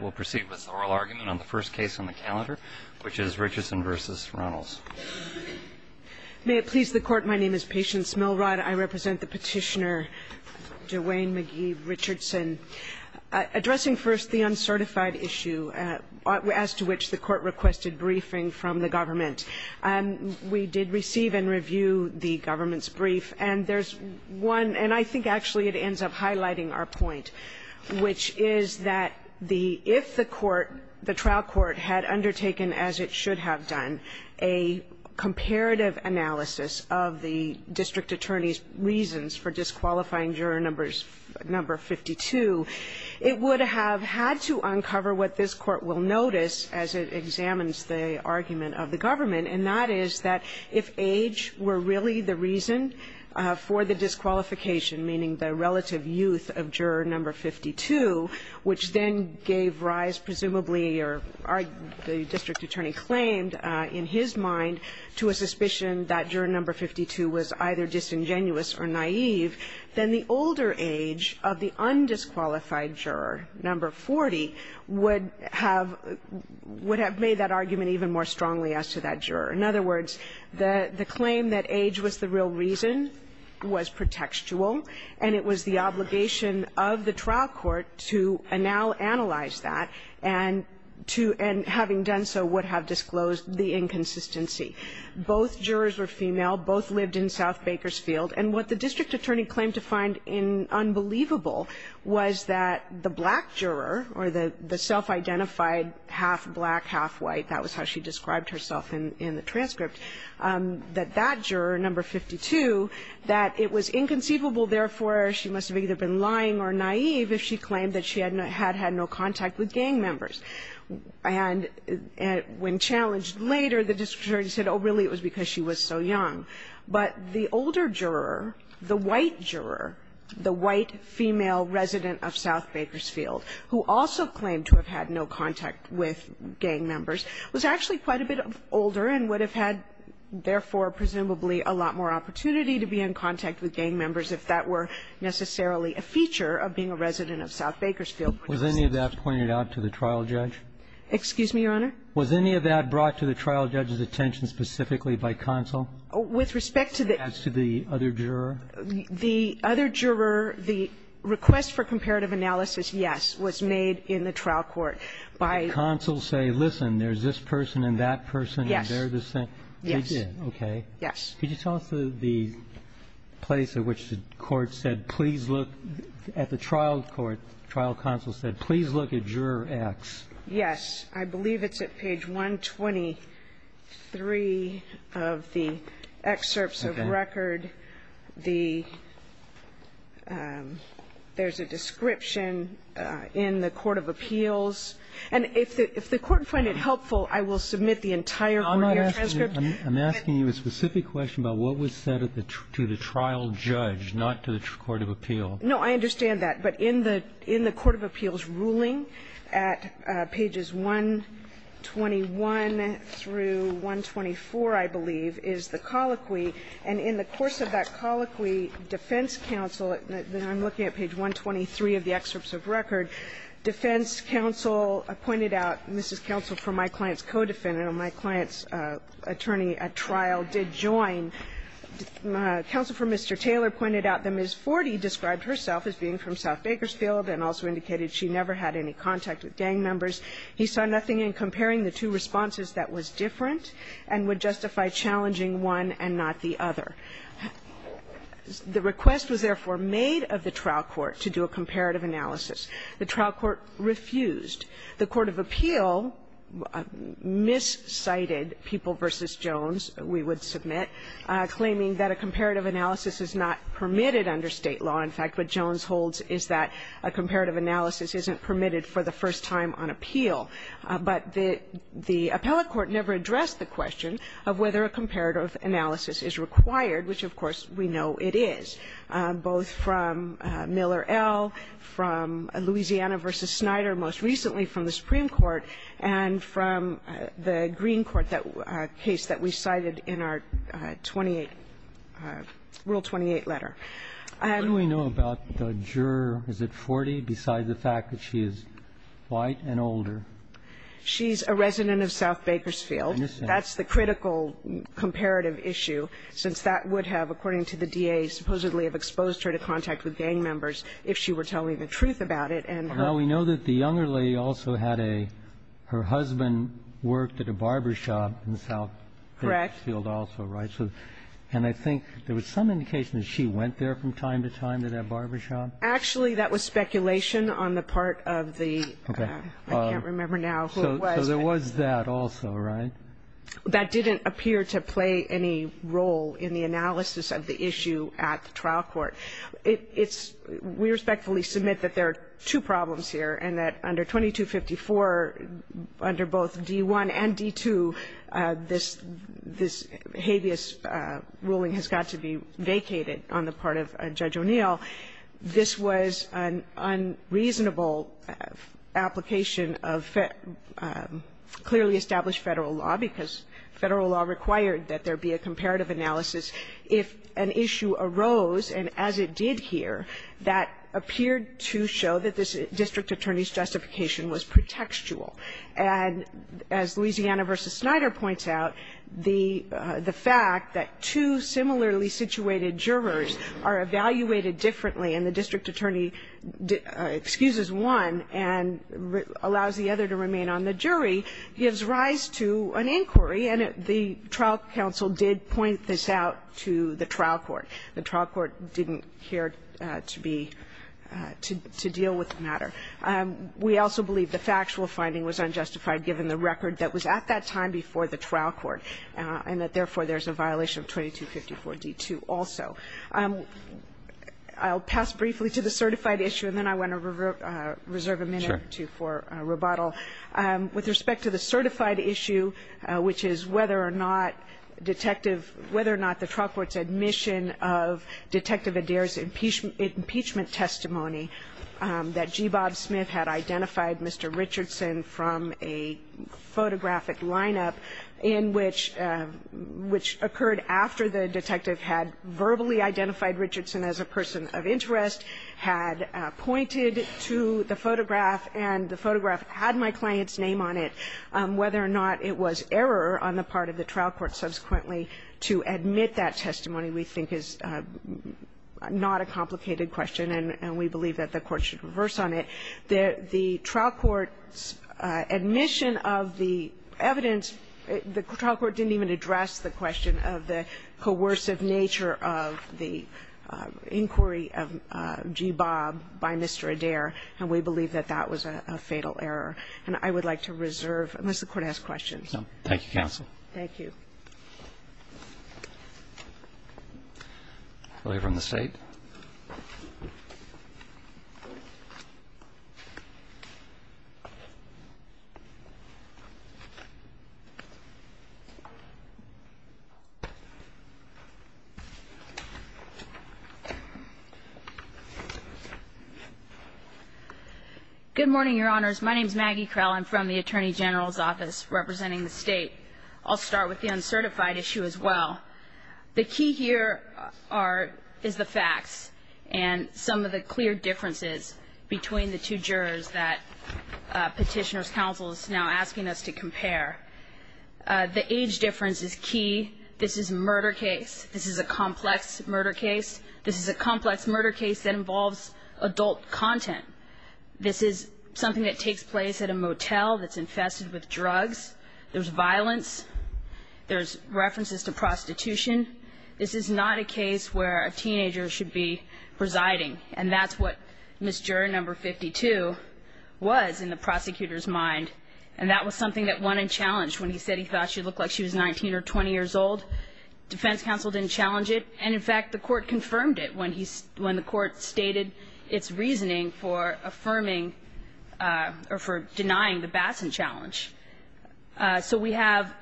We'll proceed with the oral argument on the first case on the calendar, which is Richardson v. Runnels. May it please the Court, my name is Patience Milrod. I represent the Petitioner, Dwayne McGee Richardson, addressing first the uncertified issue as to which the Court requested briefing from the government. We did receive and review the government's brief, and there's one – and I think actually it ends up highlighting our point, which is that the – if the court, the trial court, had undertaken, as it should have done, a comparative analysis of the district attorney's reasons for disqualifying juror number 52, it would have had to uncover what this Court will notice as it examines the argument of the government, and that is that if age were really the reason for the disqualification, meaning the relative youth of juror number 52, which then gave rise, presumably or the district attorney claimed in his mind, to a suspicion that juror number 52 was either disingenuous or naive, then the older age of the undisqualified juror, number 40, would have made that argument even more strongly as to that juror. In other words, the claim that age was the real reason was pretextual, and it was the obligation of the trial court to now analyze that and to – and having done so would have disclosed the inconsistency. Both jurors were female. Both lived in South Bakersfield. And what the district attorney claimed to find in – unbelievable was that the black juror or the self-identified half-black, half-white – that was how she described herself in the transcript – that that juror, number 52, that it was inconceivable, therefore, she must have either been lying or naive if she claimed that she had no – had had no contact with gang members. And when challenged later, the district attorney said, oh, really, it was because she was so young. But the older juror, the white juror, the white female resident of South Bakersfield, who also claimed to have had no contact with gang members, was actually quite a bit older and would have had, therefore, presumably a lot more opportunity to be in contact with gang members if that were necessarily a feature of being a resident of South Bakersfield. Was any of that pointed out to the trial judge? Excuse me, Your Honor? Was any of that brought to the trial judge's attention specifically by counsel? With respect to the other juror? The other juror, the request for comparative analysis, yes, was made in the trial court by the other juror. The counsel say, listen, there's this person and that person and they're the same. Yes. They did, okay. Yes. Could you tell us the place at which the court said, please look at the trial court, the trial counsel said, please look at Juror X. Yes. I believe it's at page 123 of the excerpts of record. There's a description in the court of appeals. And if the court find it helpful, I will submit the entire courtier transcript. I'm asking you a specific question about what was said to the trial judge, not to the court of appeal. No, I understand that. But in the court of appeals ruling at pages 121 through 124, I believe, is the colloquy. And in the course of that colloquy, defense counsel, I'm looking at page 123 of the excerpts of record, defense counsel pointed out, and this is counsel for my client's co-defendant or my client's attorney at trial did join, counsel for Mr. Taylor pointed out that Ms. Forty described herself as being from South Bakersfield and also indicated she never had any contact with gang members. He saw nothing in comparing the two responses that was different and would justify challenging one and not the other. The request was therefore made of the trial court to do a comparative analysis. The trial court refused. The court of appeal miscited People v. Jones, we would submit, claiming that a comparative analysis is not permitted under State law. In fact, what Jones holds is that a comparative analysis isn't permitted for the first time on appeal. But the appellate court never addressed the question of whether a comparative analysis is required, which, of course, we know it is, both from Miller L., from Louisiana v. Snyder, most recently from the Supreme Court, and from the Green Court, that case that we cited in our 28th, Rule 28 letter. And we know about the juror, is it Forty, beside the fact that she is white and older, she's a resident of South Bakersfield. That's the critical comparative issue, since that would have, according to the DA, supposedly have exposed her to contact with gang members if she were telling the truth about it, and her ---- Now, we know that the younger lady also had a ---- her husband worked at a barbershop in South Bakersfield also, right? Correct. And I think there was some indication that she went there from time to time to that barbershop. Actually, that was speculation on the part of the ---- Okay. I can't remember now who it was. So there was that also, right? That didn't appear to play any role in the analysis of the issue at the trial court. It's ---- we respectfully submit that there are two problems here, and that under 2254, under both D.I. and D.II., this habeas ruling has got to be vacated on the part of Judge O'Neill. This was an unreasonable application of clearly established Federal law, because Federal law required that there be a comparative analysis if an issue arose, and as it did here, that appeared to show that this district attorney's justification was pretextual. And as Louisiana v. Snyder points out, the fact that two similarly situated jurors are evaluated differently and the district attorney excuses one and allows the other to remain on the jury gives rise to an inquiry, and the trial counsel did point this out to the trial court. The trial court didn't care to be ---- to deal with the matter. We also believe the factual finding was unjustified, given the record that was at that time before the trial court, and that, therefore, there's a violation of 2254 D.II. also. I'll pass briefly to the certified issue, and then I want to reserve a minute or two for rebuttal. With respect to the certified issue, which is whether or not Detective ---- whether or not the trial court's admission of Detective Adair's impeachment testimony that G. Bob Smith had identified Mr. Richardson from a photographic line-up in which ---- which occurred after the detective had verbally identified Richardson as a person of interest, had pointed to the photograph, and the photograph had my client's name on it, whether or not it was error on the part of the trial court subsequently to admit that testimony, we think is not a complicated question, and we believe that the court should reverse on it. The trial court's admission of the evidence, the trial court didn't even address the question of the coercive nature of the inquiry of G. Bob by Mr. Adair, and we believe that that was a fatal error. And I would like to reserve, unless the Court has questions. Roberts. Thank you, counsel. Thank you. We'll hear from the State. Good morning, Your Honors. My name is Maggie Krell. I'm from the Attorney General's Office representing the State. I'll start with the uncertified issue as well. The key here is the facts and some of the clear differences between the two jurors that Petitioner's counsel is now asking us to compare. The age difference is key. This is a murder case. This is a complex murder case. This is a complex murder case that involves adult content. This is something that takes place at a motel that's infested with drugs. There's violence. There's references to prostitution. This is not a case where a teenager should be presiding, and that's what Miss Juror No. 52 was in the prosecutor's mind. And that was something that went unchallenged when he said he thought she looked like she was 19 or 20 years old. Defense counsel didn't challenge it. And, in fact, the Court confirmed it when he's – when the Court stated its reasoning for affirming or for denying the Bassan challenge. So we have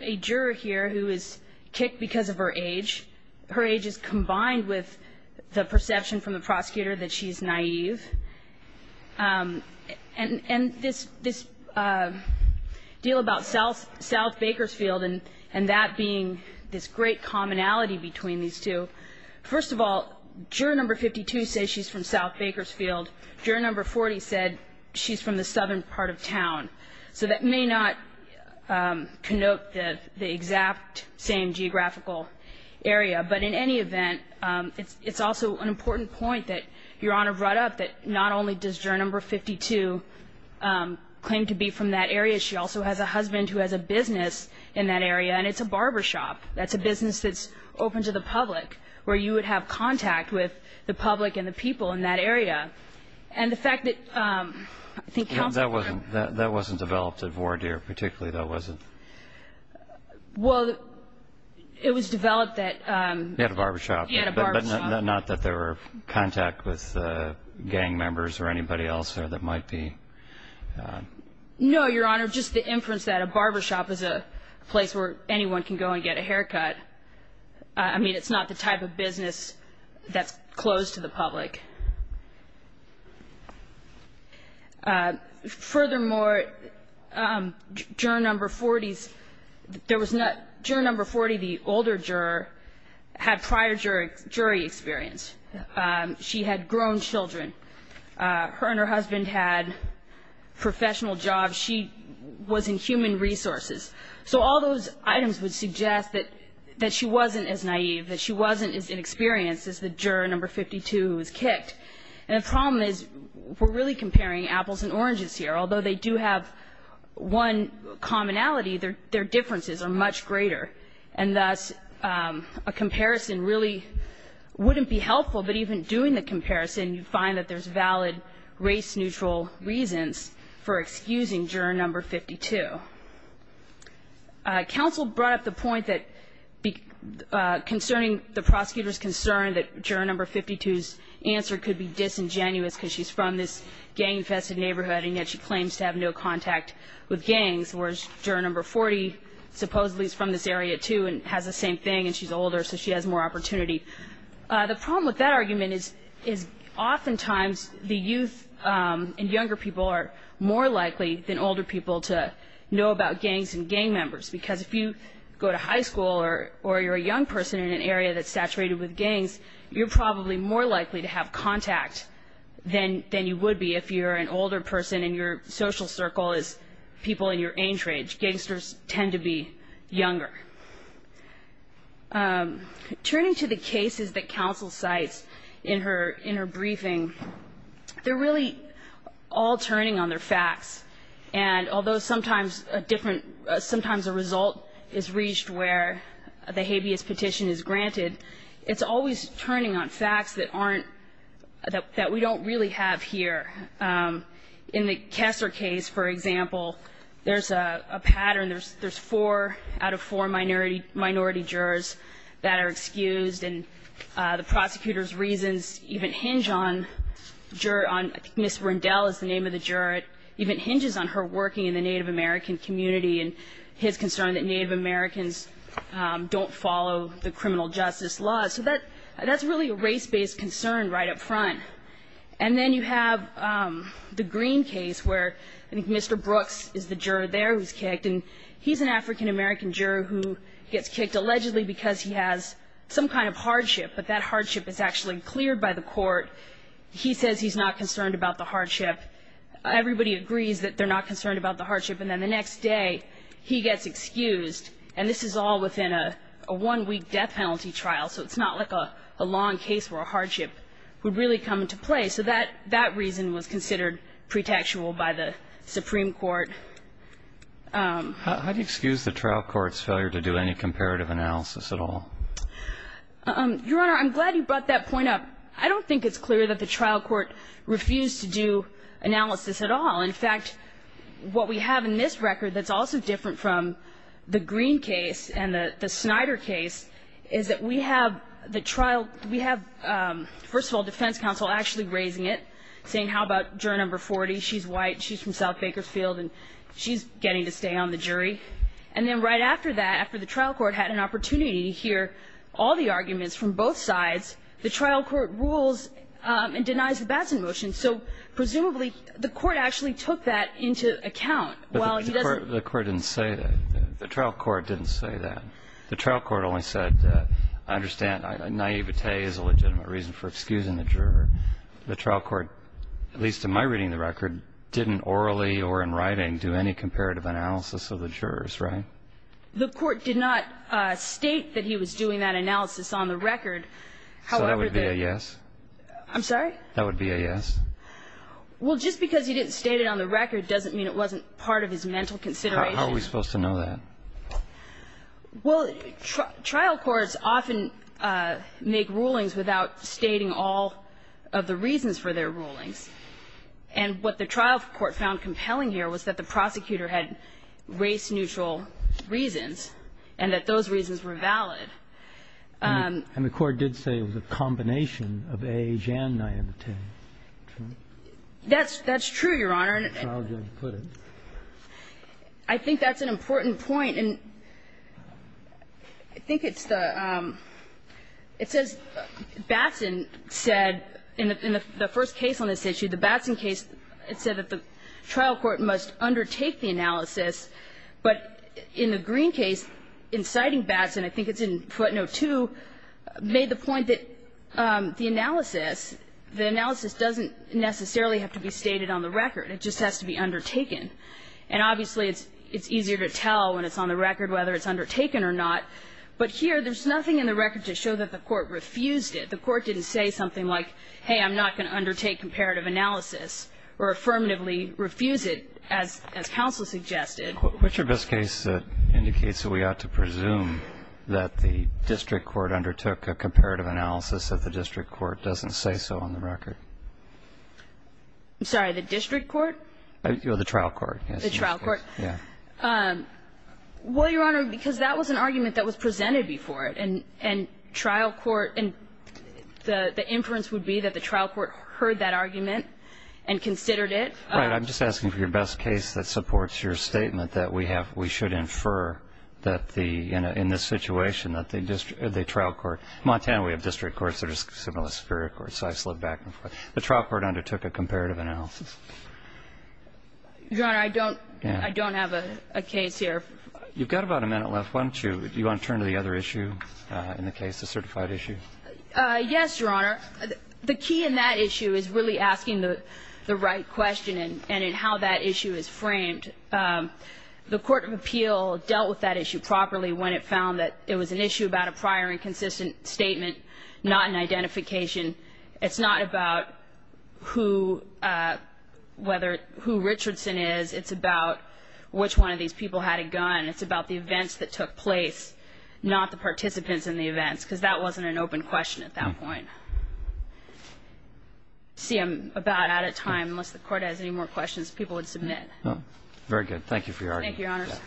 a juror here who is kicked because of her age. Her age is combined with the perception from the prosecutor that she's naive. And this deal about South Bakersfield and that being this great commonality between these two, first of all, Juror No. 52 says she's from South Bakersfield. Juror No. 40 said she's from the southern part of town. So that may not connote the exact same geographical area. But in any event, it's also an important point that Your Honor brought up that not only does Juror No. 52 claim to be from that area, she also has a husband who has a business in that area, and it's a barbershop. That's a business that's open to the public, where you would have contact with the public and the people in that area. And the fact that – I think counsel confirmed – That wasn't developed at Vore Deer. Particularly, that wasn't. Well, it was developed that – He had a barbershop. He had a barbershop. Not that there were contact with gang members or anybody else there that might be – No, Your Honor. Just the inference that a barbershop is a place where anyone can go and get a haircut. I mean, it's not the type of business that's closed to the public. Furthermore, Juror No. 40's – there was no – Juror No. 40, the older juror, had prior jury experience. She had grown children. Her and her husband had professional jobs. She was in human resources. So all those items would suggest that she wasn't as naive, that she wasn't as 52, who was kicked out of the barbershop. And the problem is, we're really comparing apples and oranges here. Although they do have one commonality, their differences are much greater. And thus, a comparison really wouldn't be helpful. But even doing the comparison, you find that there's valid race-neutral reasons for excusing Juror No. 52. Counsel brought up the point that concerning the prosecutor's concern that the prosecutor could be disingenuous because she's from this gang-infested neighborhood, and yet she claims to have no contact with gangs, whereas Juror No. 40 supposedly is from this area, too, and has the same thing. And she's older, so she has more opportunity. The problem with that argument is oftentimes the youth and younger people are more likely than older people to know about gangs and gang members. Because if you go to high school or you're a young person in an area that's less likely to make contact than you would be if you're an older person and your social circle is people in your age range. Gangsters tend to be younger. Turning to the cases that counsel cites in her briefing, they're really all turning on their facts. And although sometimes a result is reached where the habeas petition is that we don't really have here. In the Kessler case, for example, there's a pattern. There's four out of four minority jurors that are excused. And the prosecutor's reasons even hinge on Miss Rundell is the name of the juror. It even hinges on her working in the Native American community and his concern that Native Americans don't follow the criminal justice law. So that's really a race-based concern right up front. And then you have the Green case where I think Mr. Brooks is the juror there who's kicked. And he's an African-American juror who gets kicked allegedly because he has some kind of hardship. But that hardship is actually cleared by the court. He says he's not concerned about the hardship. Everybody agrees that they're not concerned about the hardship. And then the next day, he gets excused. And this is all within a one-week death penalty trial. So it's not like a long case where a hardship would really come into play. So that reason was considered pretextual by the Supreme Court. How do you excuse the trial court's failure to do any comparative analysis at all? Your Honor, I'm glad you brought that point up. I don't think it's clear that the trial court refused to do analysis at all. In fact, what we have in this record that's also different from the Green case and the Snyder case is that we have the trial we have, first of all, defense counsel actually raising it, saying, how about juror number 40? She's white. She's from South Bakersfield. And she's getting to stay on the jury. And then right after that, after the trial court had an opportunity to hear all the arguments from both sides, the trial court rules and denies the Batson motion. So presumably, the court actually took that into account while he doesn't. The court didn't say that. The trial court didn't say that. The trial court only said, I understand naivete is a legitimate reason for excusing the juror. The trial court, at least in my reading of the record, didn't orally or in writing do any comparative analysis of the jurors, right? The court did not state that he was doing that analysis on the record. However, the So that would be a yes? I'm sorry? That would be a yes? Well, just because he didn't state it on the record doesn't mean it wasn't part of his mental consideration. How are we supposed to know that? Well, trial courts often make rulings without stating all of the reasons for their rulings. And what the trial court found compelling here was that the prosecutor had race-neutral reasons and that those reasons were valid. And the court did say it was a combination of age and naivete. That's true, Your Honor. And I think that's an important point. And I think it's the – it says Batson said in the first case on this issue, the Batson case, it said that the trial court must undertake the analysis. But in the Green case, inciting Batson, I think it's in footnote 2, made the point that the analysis, the analysis doesn't necessarily have to be stated on the record. It just has to be undertaken. And obviously, it's easier to tell when it's on the record whether it's undertaken or not. But here, there's nothing in the record to show that the court refused it. The court didn't say something like, hey, I'm not going to undertake comparative analysis or affirmatively refuse it, as counsel suggested. But your best case indicates that we ought to presume that the district court undertook a comparative analysis that the district court doesn't say so on the record. I'm sorry. The district court? No, the trial court. The trial court. Yeah. Well, Your Honor, because that was an argument that was presented before it, and trial court – and the inference would be that the trial court heard that argument and considered it. Right. I'm just asking for your best case that supports your statement that we have – we should infer that the – in this situation, that the trial court – Montana, we have district courts that are similar to superior courts. I slipped back and forth. The trial court undertook a comparative analysis. Your Honor, I don't – I don't have a case here. You've got about a minute left, why don't you – do you want to turn to the other issue in the case, the certified issue? Yes, Your Honor. The key in that issue is really asking the right question and in how that issue is framed. The court of appeal dealt with that issue properly when it found that it was an issue about a prior and consistent statement, not an identification. It's not about who – whether – who Richardson is. It's about which one of these people had a gun. It's about the events that took place, not the participants in the events, because that wasn't an open question at that point. See, I'm about out of time. Unless the Court has any more questions, people would submit. Very good. Thank you for your argument. Thank you, Your Honors.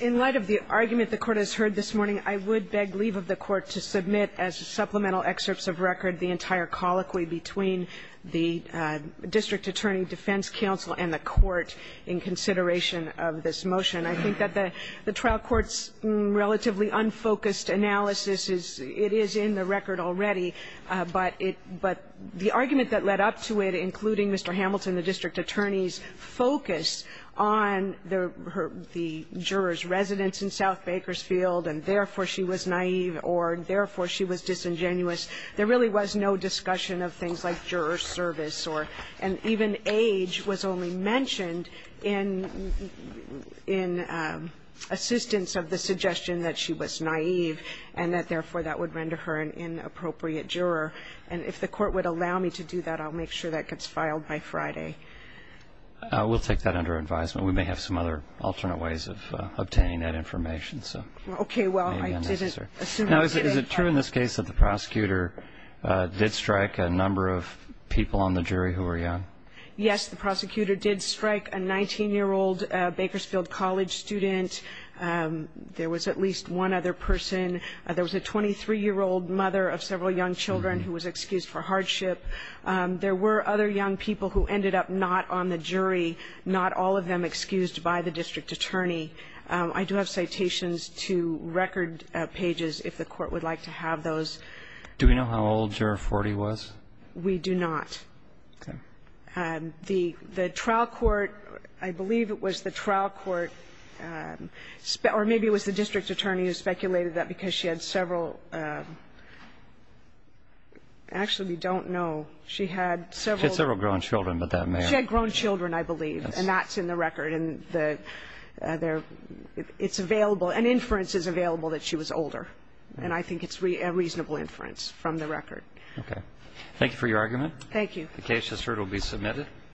In light of the argument the Court has heard this morning, I would beg leave of the Court to submit as supplemental excerpts of record the entire colloquy between the district attorney defense counsel and the Court in consideration of this motion. I think that the trial court's relatively unfocused analysis is – it is in the record already, but it – but the argument that led up to it, including Mr. Hamilton, the district attorney's focus on the juror's residence in South Bakersfield and therefore she was naive or therefore she was disingenuous, there really was no discussion of things like juror service or – and even age was only mentioned in assistance of the suggestion that she was naive and that therefore that would render her an inappropriate juror. And if the Court would allow me to do that, I'll make sure that gets filed by Friday. We'll take that under advisement. We may have some other alternate ways of obtaining that information. Okay. Well, I didn't – Now, is it true in this case that the prosecutor did strike a number of people on the jury who were young? Yes, the prosecutor did strike a 19-year-old Bakersfield College student. There was at least one other person. There was a 23-year-old mother of several young children who was excused for hardship. There were other young people who ended up not on the jury, not all of them excused by the district attorney. I do have citations to record pages if the Court would like to have those. Do we know how old juror 40 was? We do not. Okay. The trial court, I believe it was the trial court, or maybe it was the district attorney who speculated that because she had several – actually, we don't know. She had several – She had several grown children, but that may have – She had grown children, I believe. Yes. And that's in the record. And it's available – an inference is available that she was older. And I think it's a reasonable inference from the record. Okay. Thank you for your argument. Thank you. The case has heard will be submitted.